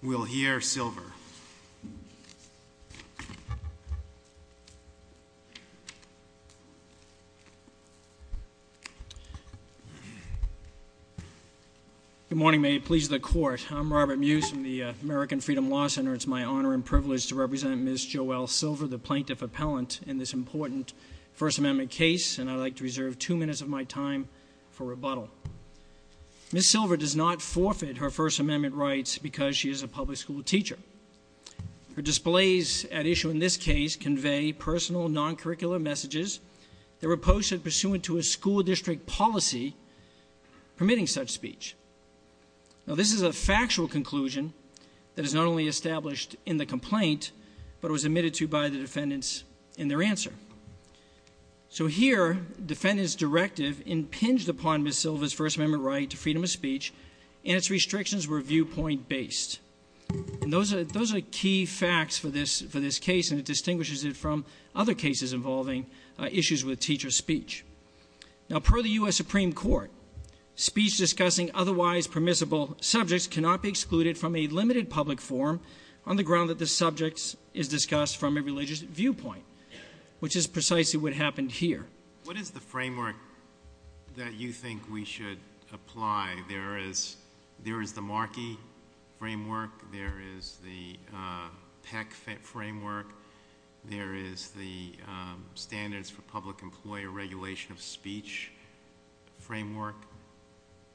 We'll hear Silver. Good morning, may it please the Court. I'm Robert Mews from the American Freedom Law Center. It's my honor and privilege to represent Ms. Joelle Silver, the plaintiff appellant, in this important First Amendment case, and I'd like to reserve two minutes of my time for rebuttal. Ms. Silver does not forfeit her First Amendment rights because she is a public school teacher. Her displays at issue in this case convey personal, non-curricular messages that were posted pursuant to a school district policy permitting such speech. This is a factual conclusion that is not only established in the complaint, but was admitted to by the defendants in their answer. So, here, defendants' directive impinged upon Ms. Silver's First Amendment right to freedom of speech, and its restrictions were viewpoint-based. Those are key facts for this case, and it distinguishes it from other cases involving issues with teacher speech. Now, per the U.S. Supreme Court, speech discussing otherwise permissible subjects cannot be excluded from a limited public forum on the ground that the subject is discussed from a religious viewpoint, which is precisely what happened here. What is the framework that you think we should apply? There is the Markey framework, there is the Peck framework, there is the Standards for Public Employee Regulation of Speech framework.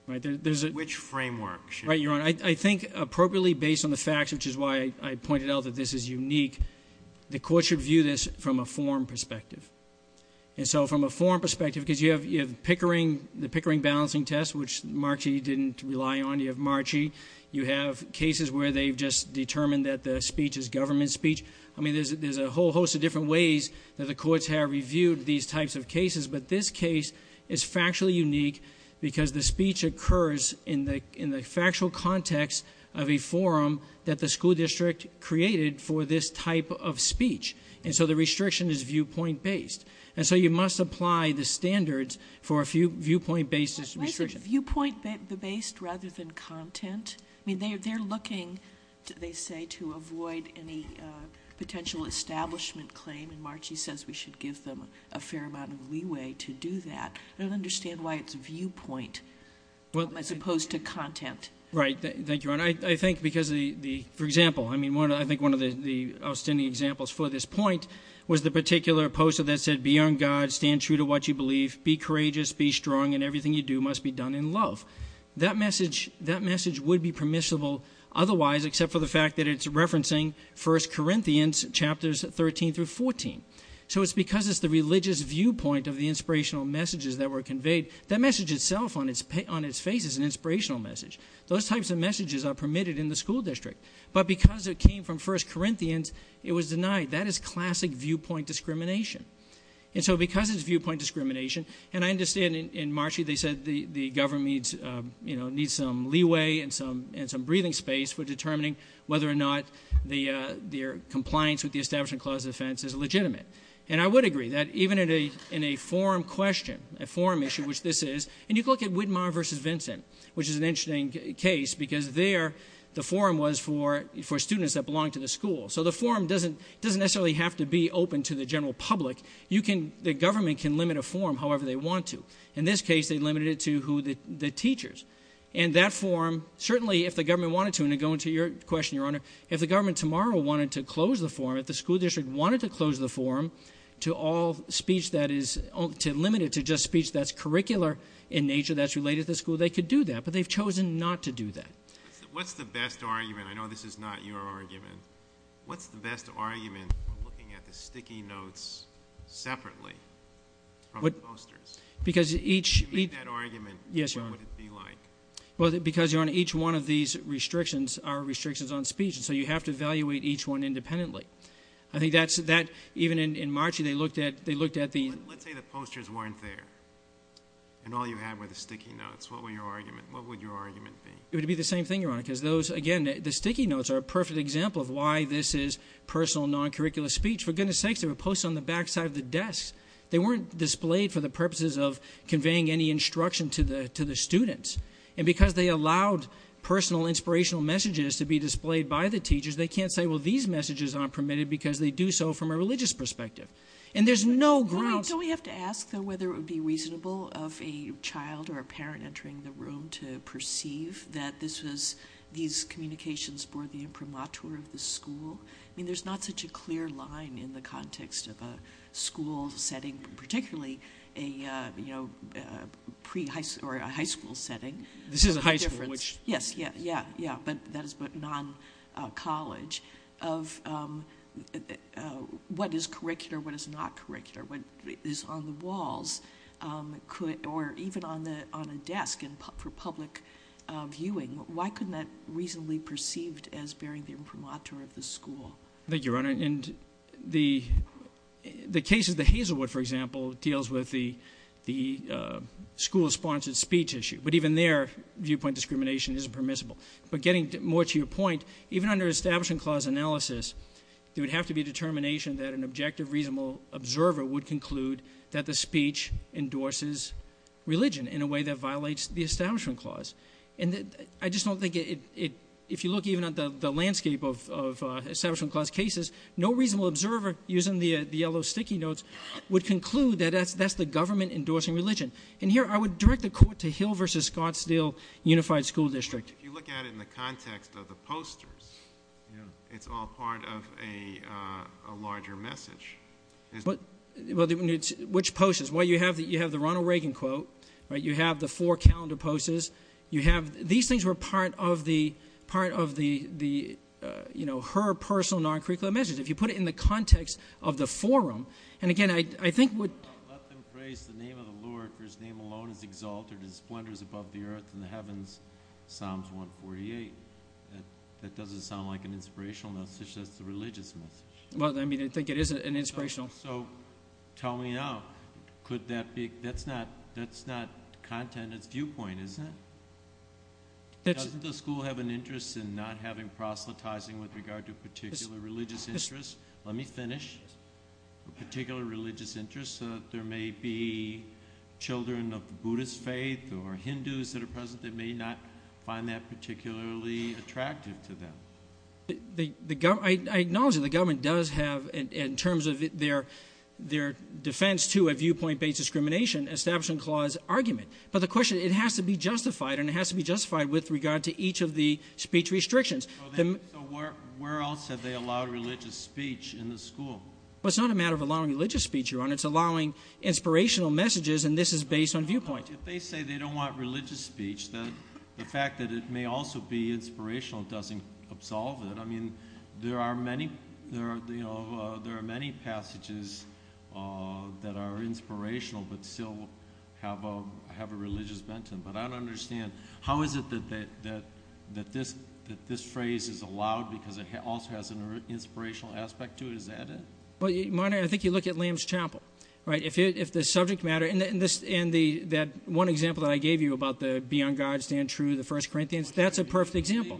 Which framework? Right, Your Honor. I think, appropriately based on the facts, which is why I pointed out that this is unique, the court should view this from a forum perspective. And so, from a forum perspective, because you have Pickering, the Pickering balancing test, which Markey didn't rely on, you have Markey, you have cases where they've just determined that the speech is government speech, I mean, there's a whole host of different ways that the courts have reviewed these types of cases, but this case is factually unique because the speech occurs in the factual context of a forum that the school district created for this type of speech. And so the restriction is viewpoint-based. And so you must apply the standards for a viewpoint-based restriction. Why is it viewpoint-based rather than content? I mean, they're looking, they say, to avoid any potential establishment claim, and Markey says we should give them a fair amount of leeway to do that. I don't understand why it's viewpoint as opposed to content. Right, thank you, Your Honor. I think because the, for example, I mean, I think one of the outstanding examples for this point was the particular poster that said, be on God, stand true to what you believe, be courageous, be strong, and everything you do must be done in love. That message would be permissible otherwise, except for the fact that it's referencing 1 Corinthians chapters 13 through 14. So it's because it's the religious viewpoint of the inspirational messages that were conveyed, that message itself on its face is an inspirational message. Those types of messages are permitted in the school district. But because it came from 1 Corinthians, it was denied. That is classic viewpoint discrimination. And so because it's viewpoint discrimination, and I understand in Markey they said the government needs some leeway and some breathing space for determining whether or not their compliance with the Establishment Clause of Defense is legitimate. And I would agree that even in a forum question, a forum issue, which this is. And you look at Widmar versus Vincent, which is an interesting case, because there the forum was for students that belong to the school. So the forum doesn't necessarily have to be open to the general public. The government can limit a forum however they want to. In this case, they limited it to the teachers. And that forum, certainly if the government wanted to, and to go into your question, Your Honor. If the government tomorrow wanted to close the forum, if the school district wanted to close the forum, to all speech that is, to limit it to just speech that's curricular in nature that's related to the school, they could do that. But they've chosen not to do that. What's the best argument? I know this is not your argument. What's the best argument for looking at the sticky notes separately from the posters? Because each- Give me that argument. Yes, Your Honor. What would it be like? Well, because Your Honor, each one of these restrictions are restrictions on speech, and so you have to evaluate each one independently. I think that's, even in March, they looked at the- Let's say the posters weren't there, and all you had were the sticky notes. What would your argument be? It would be the same thing, Your Honor, because those, again, the sticky notes are a perfect example of why this is personal non-curricular speech. For goodness sakes, they were posted on the back side of the desk. They weren't displayed for the purposes of conveying any instruction to the students. And because they allowed personal inspirational messages to be displayed by the teachers, they can't say, well, these messages aren't permitted because they do so from a religious perspective. And there's no grounds- Don't we have to ask, though, whether it would be reasonable of a child or a parent entering the room to perceive that this was, these communications were the imprimatur of the school? I mean, there's not such a clear line in the context of a school setting, particularly a high school setting. This is a high school, which- This is a college of what is curricular, what is not curricular, what is on the walls, or even on a desk for public viewing. Why couldn't that reasonably be perceived as bearing the imprimatur of the school? Thank you, Your Honor, and the case of the Hazelwood, for example, deals with the school-sponsored speech issue, but even there, viewpoint discrimination isn't permissible. But getting more to your point, even under establishment clause analysis, there would have to be a determination that an objective, reasonable observer would conclude that the speech endorses religion in a way that violates the establishment clause. And I just don't think it, if you look even at the landscape of establishment clause cases, no reasonable observer, using the yellow sticky notes, would conclude that that's the government endorsing religion. And here, I would direct the court to Hill versus Scottsdale Unified School District. If you look at it in the context of the posters, it's all part of a larger message. Which posters? Well, you have the Ronald Reagan quote, you have the four calendar posters, you have, these things were part of her personal non-curricular messages. If you put it in the context of the forum, and again, I think what- Let them praise the name of the Lord, for his name alone is exalted, and his splendor is above the Earth and the Heavens, Psalms 148. That doesn't sound like an inspirational message, that's a religious message. Well, I mean, I think it is an inspirational- So, tell me now, could that be, that's not content, it's viewpoint, isn't it? Doesn't the school have an interest in not having proselytizing with regard to particular religious interests? Let me finish, particular religious interests, there may be children of the Buddhist faith or Hindus that are present that may not find that particularly attractive to them. I acknowledge that the government does have, in terms of their defense to a viewpoint-based discrimination, an Establishment Clause argument. But the question, it has to be justified, and it has to be justified with regard to each of the speech restrictions. So where else have they allowed religious speech in the school? Well, it's not a matter of allowing religious speech, Your Honor, it's allowing inspirational messages, and this is based on viewpoint. If they say they don't want religious speech, the fact that it may also be inspirational doesn't absolve it. I mean, there are many passages that are inspirational, but still have a religious bent to them. But I don't understand, how is it that this phrase is allowed because it also has an inspirational aspect to it, is that it? Well, Your Honor, I think you look at Lamb's Chapel, right? If the subject matter, and that one example that I gave you about the be on God, stand true, the first Corinthians, that's a perfect example.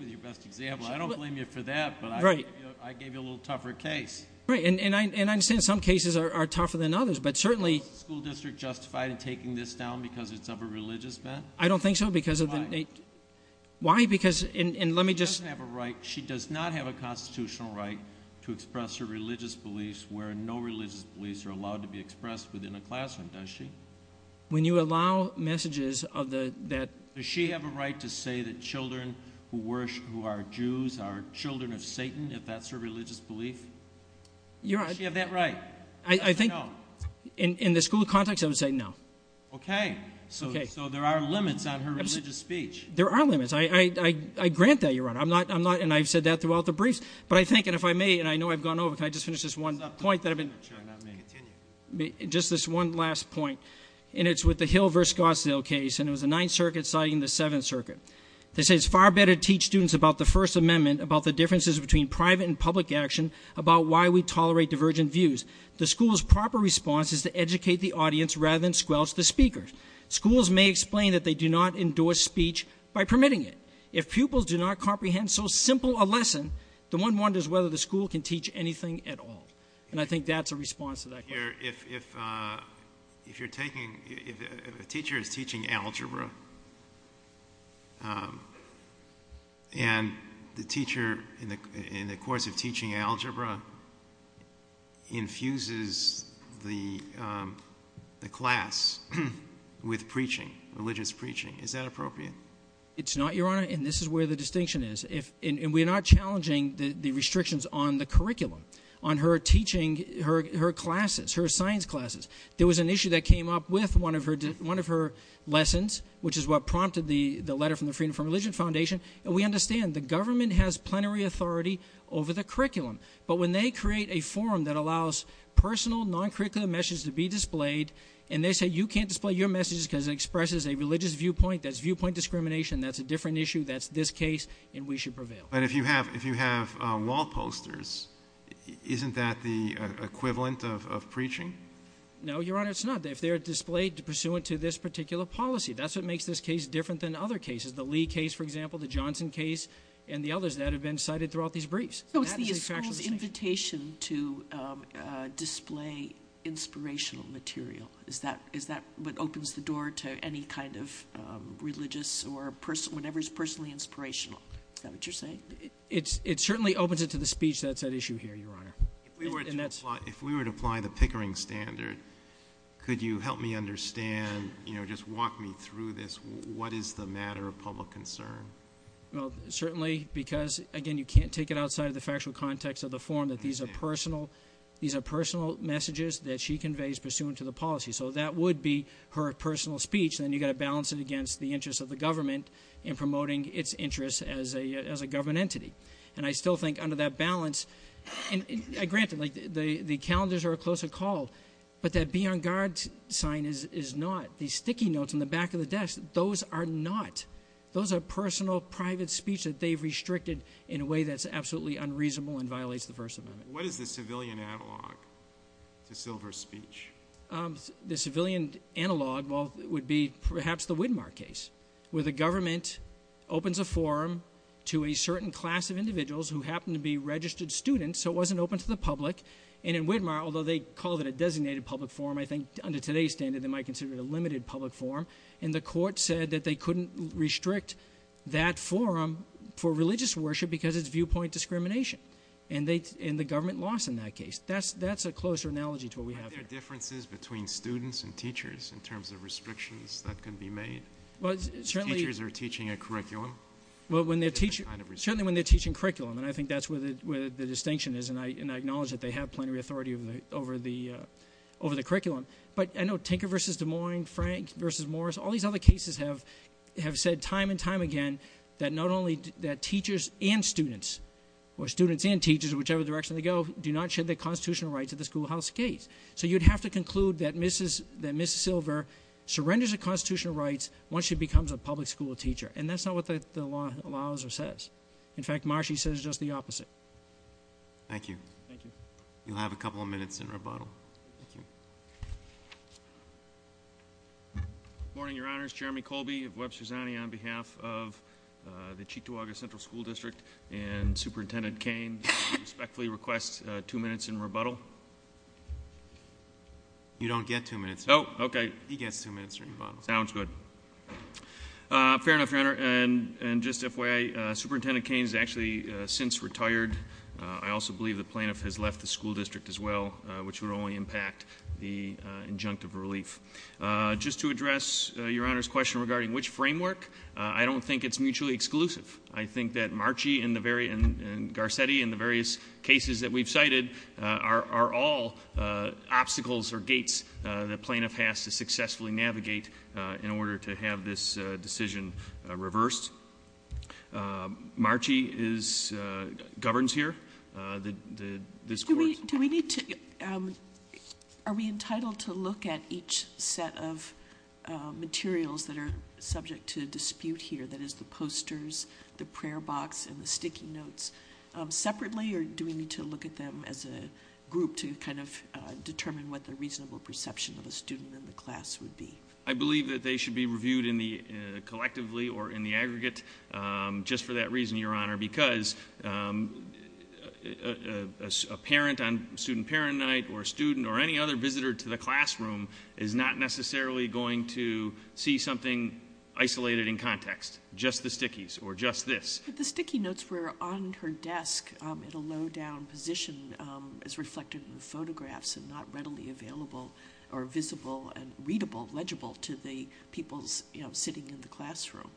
I don't blame you for that, but I gave you a little tougher case. Right, and I understand some cases are tougher than others, but certainly- Is the school district justified in taking this down because it's of a religious bent? I don't think so, because of the- Why? Why? Because, and let me just- She doesn't have a right, she does not have a constitutional right to express her religious beliefs where no religious beliefs are allowed to be expressed within a classroom, does she? When you allow messages of the, that- Does she have a right to say that children who are Jews are children of Satan, if that's her religious belief? You're- Does she have that right? I think- I don't know. In the school context, I would say no. Okay, so there are limits on her religious speech. There are limits, I grant that, Your Honor, and I've said that throughout the briefs. But I think, and if I may, and I know I've gone over, can I just finish this one point that I've been- Sure, and I may continue. Just this one last point, and it's with the Hill versus Gossdale case, and it was the Ninth Circuit citing the Seventh Circuit. They say it's far better to teach students about the First Amendment, about the differences between private and public action, about why we tolerate divergent views. The school's proper response is to educate the audience rather than squelch the speakers. Schools may explain that they do not endorse speech by permitting it. If pupils do not comprehend so simple a lesson, the one wonders whether the school can teach anything at all. And I think that's a response to that question. If you're taking, if a teacher is teaching algebra, and the teacher, in the course of teaching algebra, infuses the class with preaching, religious preaching, is that appropriate? It's not, Your Honor, and this is where the distinction is. And we're not challenging the restrictions on the curriculum, on her teaching, her classes, her science classes. There was an issue that came up with one of her lessons, which is what prompted the letter from the Freedom from Religion Foundation. And we understand the government has plenary authority over the curriculum. But when they create a forum that allows personal, non-curricular messages to be displayed, and they say you can't display your messages because it expresses a religious viewpoint, that's viewpoint discrimination, that's a different issue, that's this case, and we should prevail. But if you have wall posters, isn't that the equivalent of preaching? No, Your Honor, it's not. If they're displayed pursuant to this particular policy, that's what makes this case different than other cases. The Lee case, for example, the Johnson case, and the others that have been cited throughout these briefs. So it's the school's invitation to display inspirational material. Is that what opens the door to any kind of religious or It certainly opens it to the speech that's at issue here, Your Honor. And that's- If we were to apply the Pickering standard, could you help me understand, just walk me through this, what is the matter of public concern? Well, certainly, because again, you can't take it outside of the factual context of the form that these are personal. These are personal messages that she conveys pursuant to the policy. So that would be her personal speech. And then you've got to balance it against the interest of the government in promoting its interest as a government entity. And I still think under that balance, and granted, the calendars are a closer call. But that be on guard sign is not. These sticky notes on the back of the desk, those are not. Those are personal, private speech that they've restricted in a way that's absolutely unreasonable and violates the First Amendment. What is the civilian analog to Silver's speech? The civilian analog would be perhaps the Widmar case, where the government opens a forum to a certain class of individuals who happen to be registered students. So it wasn't open to the public. And in Widmar, although they called it a designated public forum, I think under today's standard, they might consider it a limited public forum. And the court said that they couldn't restrict that forum for religious worship because it's viewpoint discrimination. And the government lost in that case. That's a closer analogy to what we have here. Are there differences between students and teachers in terms of restrictions that can be made? Teachers are teaching a curriculum. Certainly when they're teaching curriculum, and I think that's where the distinction is. And I acknowledge that they have plenty of authority over the curriculum. But I know Tinker versus Des Moines, Frank versus Morris, all these other cases have said time and time again that not only that teachers and students, or students and teachers, whichever direction they go, do not share the constitutional rights of the schoolhouse case. So you'd have to conclude that Mrs. Silver surrenders her constitutional rights once she becomes a public school teacher. And that's not what the law allows or says. In fact, Marshy says just the opposite. Thank you. Thank you. You'll have a couple of minutes in rebuttal. Thank you. Morning, your honors. Jeremy Colby of Web Susani on behalf of the Chituaga Central School District and Superintendent Kane respectfully requests two minutes in rebuttal. You don't get two minutes. Okay. He gets two minutes in rebuttal. Sounds good. Fair enough, your honor. And just FYI, Superintendent Kane's actually since retired. I also believe the plaintiff has left the school district as well, which would only impact the injunctive relief. Just to address your honor's question regarding which framework, I don't think it's mutually exclusive. I think that Marchy and Garcetti in the various cases that we've cited are all obstacles or gates the plaintiff has to successfully navigate in order to have this decision reversed. Marchy governs here, this court. Do we need to, are we entitled to look at each set of materials that are subject to dispute here, that is the posters, the prayer box, and the sticky notes? Separately, or do we need to look at them as a group to kind of determine what the reasonable perception of a student in the class would be? I believe that they should be reviewed collectively or in the aggregate, just for that reason, your honor. Because a parent on student parent night or student or any other visitor to the classroom is not necessarily going to see something isolated in context, just the stickies or just this. The sticky notes were on her desk at a low down position as reflected in the photographs and not readily available or visible and readable, legible to the people sitting in the classroom.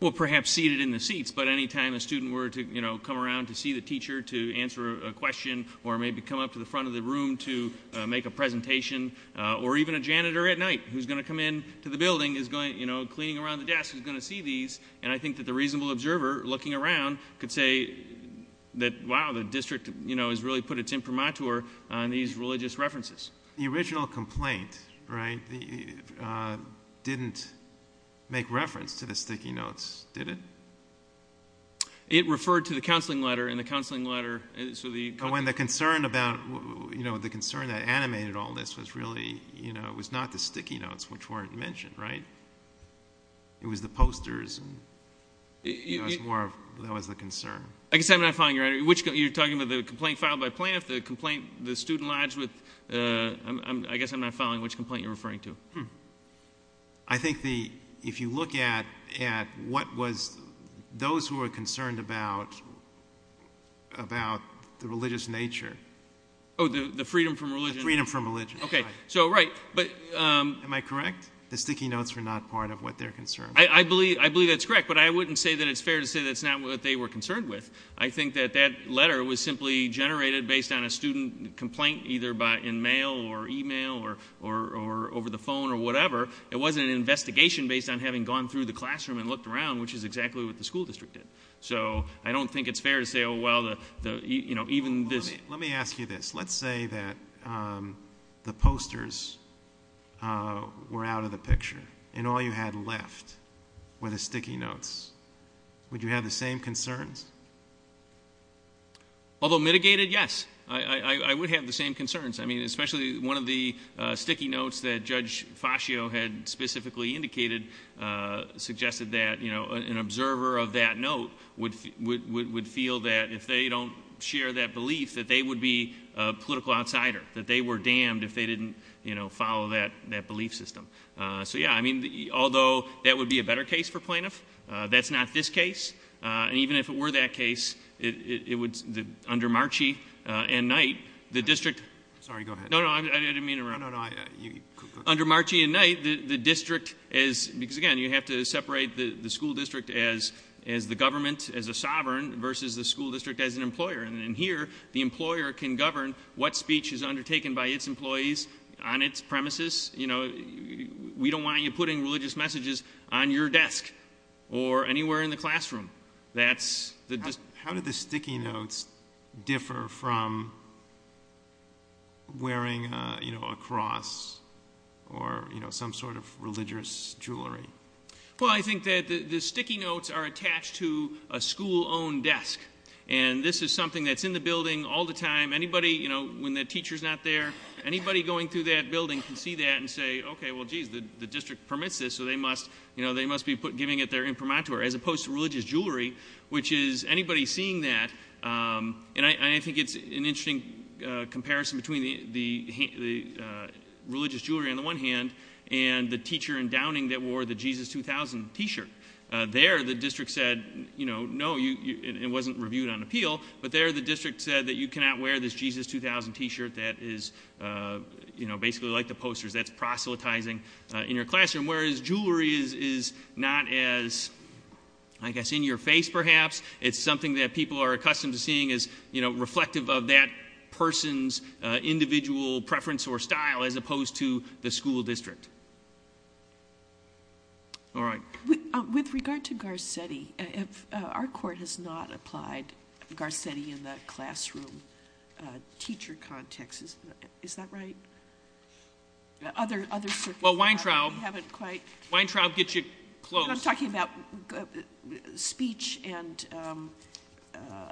Well, perhaps seated in the seats, but any time a student were to come around to see the teacher to answer a question or maybe come up to the front of the room to make a presentation, or even a janitor at night who's going to come in to the building is going, cleaning around the desk is going to see these, and I think that the reasonable observer looking around could say, that wow, the district has really put its imprimatur on these religious references. The original complaint, right, didn't make reference to the sticky notes, did it? It referred to the counseling letter, and the counseling letter, so the- So when the concern about, the concern that animated all this was really, it was not the sticky notes which weren't mentioned, right? It was the posters, and that was the concern. I guess I'm not following you, you're talking about the complaint filed by plaintiff, the complaint, the student lives with, I guess I'm not following which complaint you're referring to. I think the, if you look at what was, those who are concerned about about the religious nature. The freedom from religion. The freedom from religion. Okay, so right, but- Am I correct? The sticky notes were not part of what they're concerned with. I believe that's correct, but I wouldn't say that it's fair to say that's not what they were concerned with. I think that that letter was simply generated based on a student complaint, either in mail or email or over the phone or whatever. It wasn't an investigation based on having gone through the classroom and looked around, which is exactly what the school district did. So, I don't think it's fair to say, well, even this- Let me ask you this. Let's say that the posters were out of the picture and all you had left were the sticky notes, would you have the same concerns? Although mitigated, yes, I would have the same concerns. I mean, especially one of the sticky notes that Judge Fascio had specifically indicated suggested that an observer of that note would feel that if they don't share that belief, that they would be a political outsider, that they were damned if they didn't follow that belief system. So yeah, I mean, although that would be a better case for plaintiff, that's not this case. And even if it were that case, it would, under Marchie and Knight, the district- Sorry, go ahead. No, no, I didn't mean to interrupt. No, no, you could- Under Marchie and Knight, the district is, because again, you have to separate the school district as the government, as a sovereign, versus the school district as an employer. And here, the employer can govern what speech is undertaken by its employees on its premises. We don't want you putting religious messages on your desk or anywhere in the classroom. That's the- How do the sticky notes differ from wearing a cross or some sort of religious jewelry? Well, I think that the sticky notes are attached to a school-owned desk. And this is something that's in the building all the time. Anybody, when the teacher's not there, anybody going through that building can see that and say, okay, well, geez, the district permits this. So they must be giving it their imprimatur, as opposed to religious jewelry, which is, anybody seeing that, and I think it's an interesting comparison between the religious jewelry on the one hand, and the teacher in Downing that wore the Jesus 2000 t-shirt. There, the district said, no, it wasn't reviewed on appeal, but there the district said that you cannot wear this Jesus 2000 t-shirt that is basically like the posters. That's proselytizing in your classroom. Whereas, jewelry is not as, I guess, in your face, perhaps. It's something that people are accustomed to seeing as reflective of that person's individual preference or style, as opposed to the school district. All right. With regard to Garcetti, if our court has not applied Garcetti in the classroom teacher context. Is that right? Other circumstances. Well, Weintraub. We haven't quite. Weintraub gets you close. I'm talking about speech and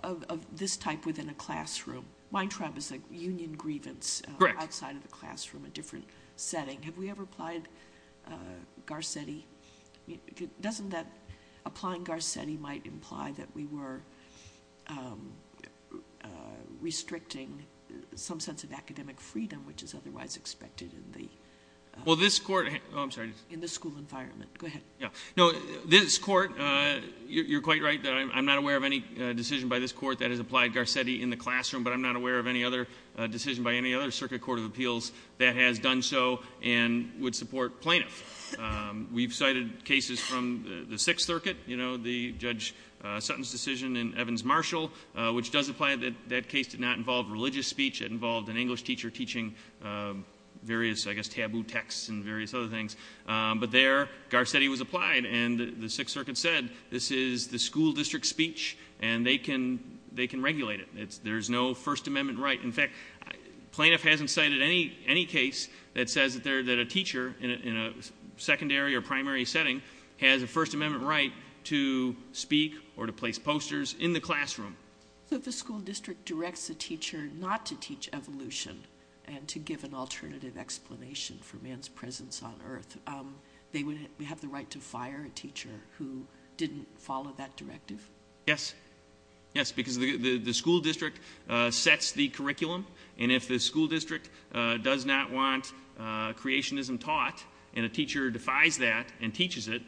of this type within a classroom. Weintraub is like union grievance. Correct. Outside of the classroom, a different setting. Have we ever applied Garcetti? Doesn't that, applying Garcetti might imply that we were restricting some sense of academic freedom, which is otherwise expected in the. Well, this court, I'm sorry. In the school environment. Go ahead. No, this court, you're quite right that I'm not aware of any decision by this court that has applied Garcetti in the classroom, but I'm not aware of any other decision by any other circuit court of appeals that has done so and would support plaintiffs. We've cited cases from the Sixth Circuit, the Judge Sutton's decision and Evans-Marshall, which does apply that that case did not involve religious speech. It involved an English teacher teaching various, I guess, taboo texts and various other things. But there, Garcetti was applied and the Sixth Circuit said, this is the school district speech and they can regulate it. There's no First Amendment right. In fact, plaintiff hasn't cited any case that says that a teacher in a secondary or primary setting has a First Amendment right to speak or to place posters in the classroom. So if the school district directs a teacher not to teach evolution and to give an alternative explanation for man's presence on Earth, they would have the right to fire a teacher who didn't follow that directive? Yes. Yes, because the school district sets the curriculum, and if the school district does not want creationism taught, and a teacher defies that and teaches it,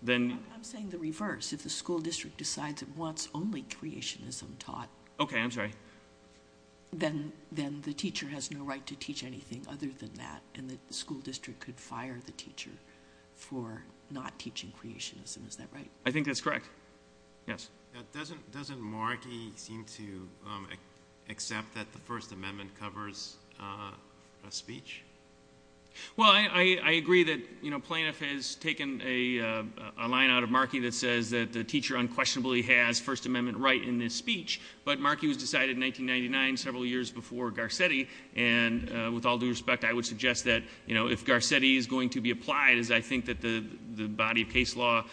then- I'm saying the reverse. If the school district decides it wants only creationism taught- Okay, I'm sorry. Then the teacher has no right to teach anything other than that, and that the school district could fire the teacher for not teaching creationism. Is that right? I think that's correct. Yes. Doesn't Markey seem to accept that the First Amendment covers a speech? Well, I agree that Plaintiff has taken a line out of Markey that says that the teacher unquestionably has First Amendment right in this speech. But Markey was decided in 1999, several years before Garcetti. And with all due respect, I would suggest that if Garcetti is going to be applied, as I think that the body of case law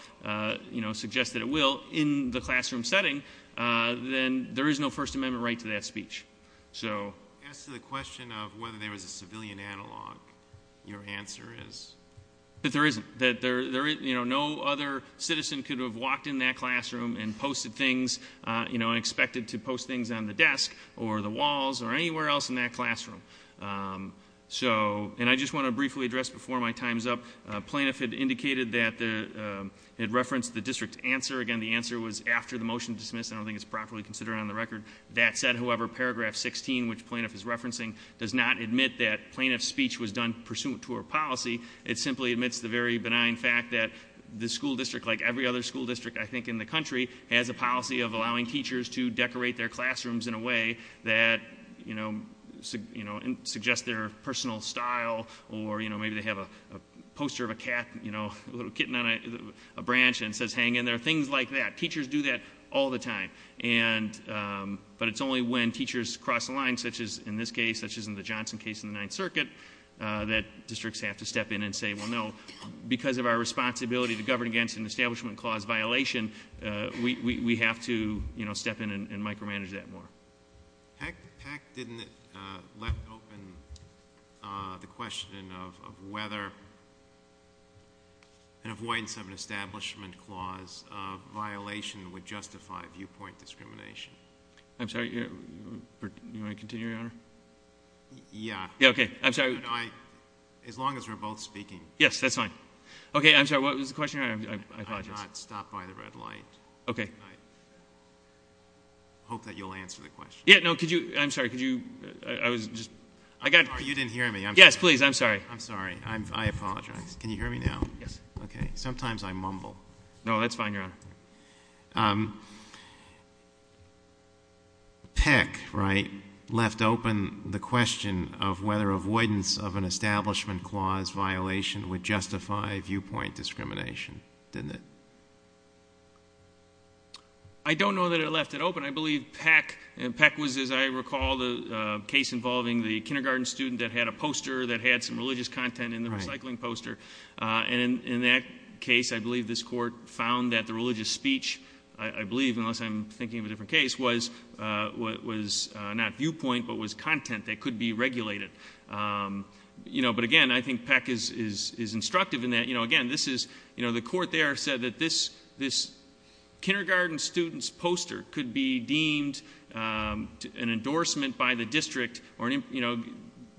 suggests that it will, in the classroom setting, then there is no First Amendment right to that speech. So- As to the question of whether there was a civilian analog, your answer is- That there isn't. That there, no other citizen could have walked in that classroom and posted things, you know, and expected to post things on the desk, or the walls, or anywhere else in that classroom. So, and I just want to briefly address before my time's up, Plaintiff had indicated that the, it referenced the district's answer. Again, the answer was after the motion dismissed, I don't think it's properly considered on the record. That said, however, paragraph 16, which Plaintiff is referencing, does not admit that Plaintiff's speech was done pursuant to her policy. It simply admits the very benign fact that the school district, like every other school district, I think, in the country, has a policy of allowing teachers to decorate their classrooms in a way that suggests their personal style. Or maybe they have a poster of a cat, a little kitten on a branch, and it says hang in there. Things like that. Teachers do that all the time. And, but it's only when teachers cross the line, such as in this case, such as in the Johnson case in the Ninth Circuit, that districts have to step in and say, well, no, because of our responsibility to govern against an establishment clause violation, we have to step in and micromanage that more. Pack didn't let open the question of whether an avoidance of an establishment clause of violation would justify viewpoint discrimination. I'm sorry, you want to continue, your honor? Yeah. Yeah, okay. I'm sorry. As long as we're both speaking. Yes, that's fine. Okay, I'm sorry, what was the question? I apologize. I have not stopped by the red light. Okay. Hope that you'll answer the question. Yeah, no, could you, I'm sorry, could you, I was just, I got. You didn't hear me. Yes, please, I'm sorry. I'm sorry. I apologize. Can you hear me now? Yes. Okay, sometimes I mumble. No, that's fine, your honor. Pack, right, left open the question of whether avoidance of an establishment clause violation would justify viewpoint discrimination, didn't it? I don't know that it left it open. I believe Pack was, as I recall, the case involving the kindergarten student that had a poster, that had some religious content in the recycling poster. And in that case, I believe this court found that the religious speech, I believe, unless I'm thinking of a different case, was not viewpoint, but was content that could be regulated. But again, I think Pack is instructive in that. Again, the court there said that this kindergarten student's poster could be deemed an endorsement by the district or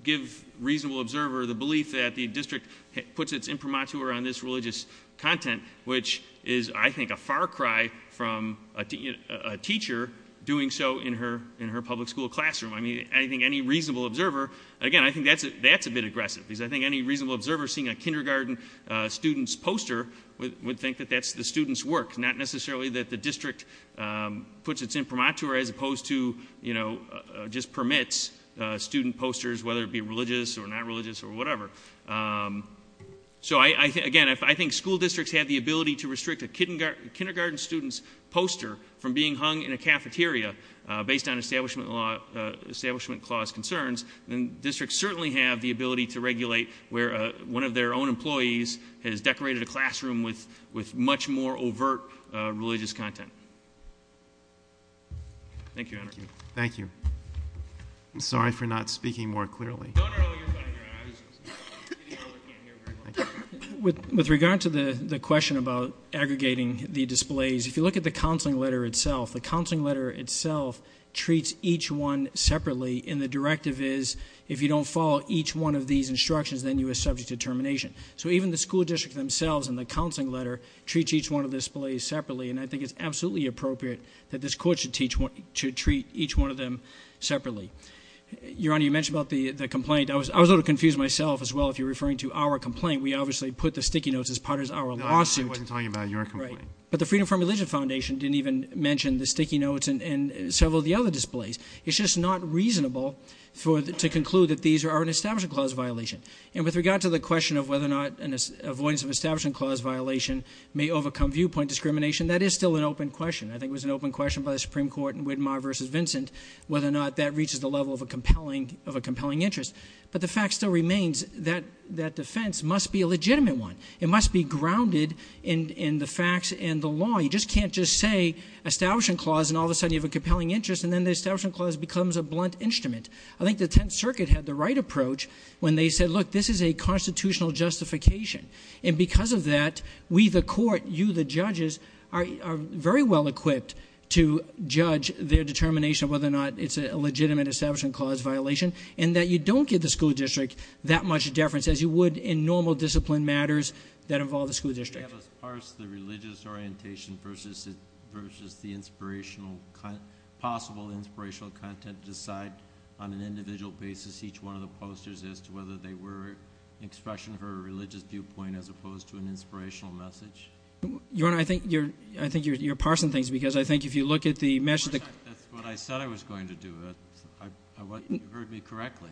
give reasonable observer the belief that the district puts its imprimatur on this religious content, which is, I think, a far cry from a teacher doing so in her public school classroom. I mean, I think any reasonable observer, again, I think that's a bit aggressive. Because I think any reasonable observer seeing a kindergarten student's poster would think that that's the student's work. Not necessarily that the district puts its imprimatur as opposed to, just permits student posters, whether it be religious or not religious or whatever. So again, I think school districts have the ability to restrict a kindergarten student's poster from being hung in a cafeteria based on establishment clause concerns. And districts certainly have the ability to regulate where one of their own employees has decorated a classroom with much more overt religious content. Thank you, Henry. Thank you. I'm sorry for not speaking more clearly. No, no, no, you're fine, you're fine, I was just kidding, I can't hear very well. With regard to the question about aggregating the displays, if you look at the counseling letter itself, the counseling letter itself treats each one separately, and the directive is if you don't follow each one of these instructions, then you are subject to termination. So even the school district themselves in the counseling letter treats each one of the displays separately, and I think it's absolutely appropriate that this court should treat each one of them separately. Your Honor, you mentioned about the complaint, I was a little confused myself as well if you're referring to our complaint. We obviously put the sticky notes as part of our lawsuit. I wasn't talking about your complaint. Right, but the Freedom from Religion Foundation didn't even mention the sticky notes and several of the other displays. It's just not reasonable to conclude that these are an establishment clause violation. And with regard to the question of whether or not an avoidance of establishment clause violation may overcome viewpoint discrimination, that is still an open question. I think it was an open question by the Supreme Court in Widmar versus Vincent, whether or not that reaches the level of a compelling interest. But the fact still remains that that defense must be a legitimate one. It must be grounded in the facts and the law. You just can't just say establishment clause and all of a sudden you have a compelling interest and then the establishment clause becomes a blunt instrument. I think the Tenth Circuit had the right approach when they said, look, this is a constitutional justification. And because of that, we the court, you the judges, are very well equipped to judge their determination whether or not it's a legitimate establishment clause violation. And that you don't give the school district that much deference as you would in normal discipline matters that involve the school district. Can you have us parse the religious orientation versus the inspirational, possible inspirational content to decide on an individual basis, each one of the posters, as to whether they were expression for a religious viewpoint as opposed to an inspirational message? Your Honor, I think you're parsing things, because I think if you look at the message. That's what I said I was going to do, you heard me correctly.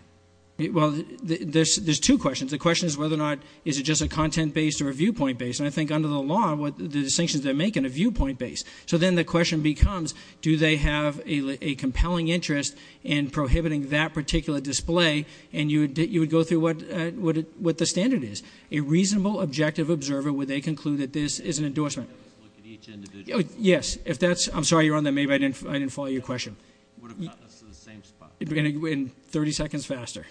Well, there's two questions. The question is whether or not, is it just a content based or a viewpoint based? And I think under the law, the distinctions they're making are viewpoint based. So then the question becomes, do they have a compelling interest in prohibiting that particular display? And you would go through what the standard is. A reasonable, objective observer, would they conclude that this is an endorsement? Look at each individual. Yes, if that's, I'm sorry you're on there, maybe I didn't follow your question. Would have gotten us to the same spot. We're going to go in 30 seconds faster.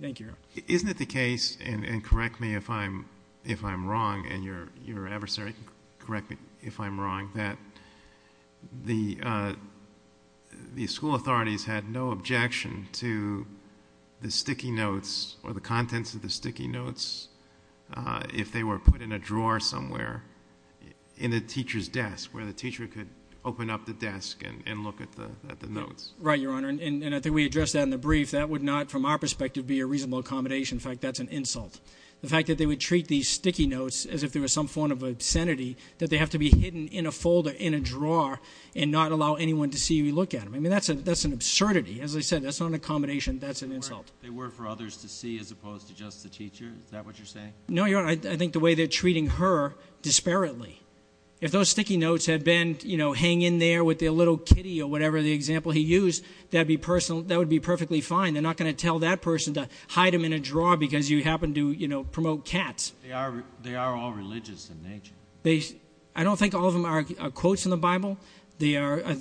Thank you, Your Honor. Isn't it the case, and correct me if I'm wrong, and your adversary can correct me if I'm wrong, that the school authorities had no objection to the sticky notes, or the contents of the sticky notes, if they were put in a drawer somewhere in the teacher's desk, where the teacher could open up the desk and look at the notes? Right, Your Honor, and I think we addressed that in the brief. That would not, from our perspective, be a reasonable accommodation. In fact, that's an insult. The fact that they would treat these sticky notes as if they were some form of obscenity, that they have to be hidden in a folder, in a drawer, and not allow anyone to see or look at them. I mean, that's an absurdity. As I said, that's not an accommodation, that's an insult. They were for others to see as opposed to just the teacher, is that what you're saying? No, Your Honor, I think the way they're treating her disparately. If those sticky notes had been hang in there with their little kitty or whatever the example he used, that would be perfectly fine. They're not going to tell that person to hide them in a drawer because you happen to promote cats. They are all religious in nature. I don't think all of them are quotes in the Bible. I'd have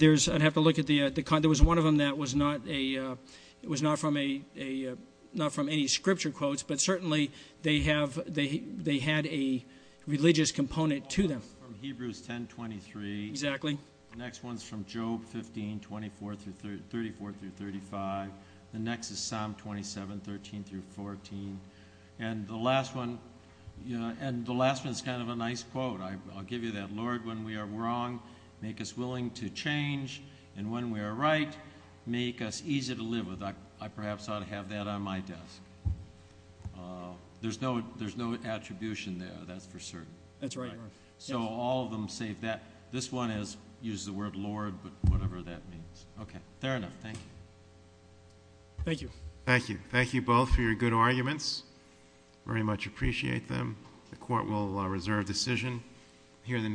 to look at the, there was one of them that was not from any scripture quotes, but certainly they had a religious component to them. From Hebrews 10, 23. Exactly. The next one's from Job 15, 24 through 35, the next is Psalm 27, 13 through 14. And the last one's kind of a nice quote, I'll give you that. Lord, when we are wrong, make us willing to change. And when we are right, make us easy to live with. I perhaps ought to have that on my desk. There's no attribution there, that's for certain. That's right, Your Honor. So all of them save that. This one uses the word Lord, but whatever that means. Okay, fair enough. Thank you. Thank you. Thank you. Thank you both for your good arguments. Very much appreciate them. The court will reserve decision. Hear the name.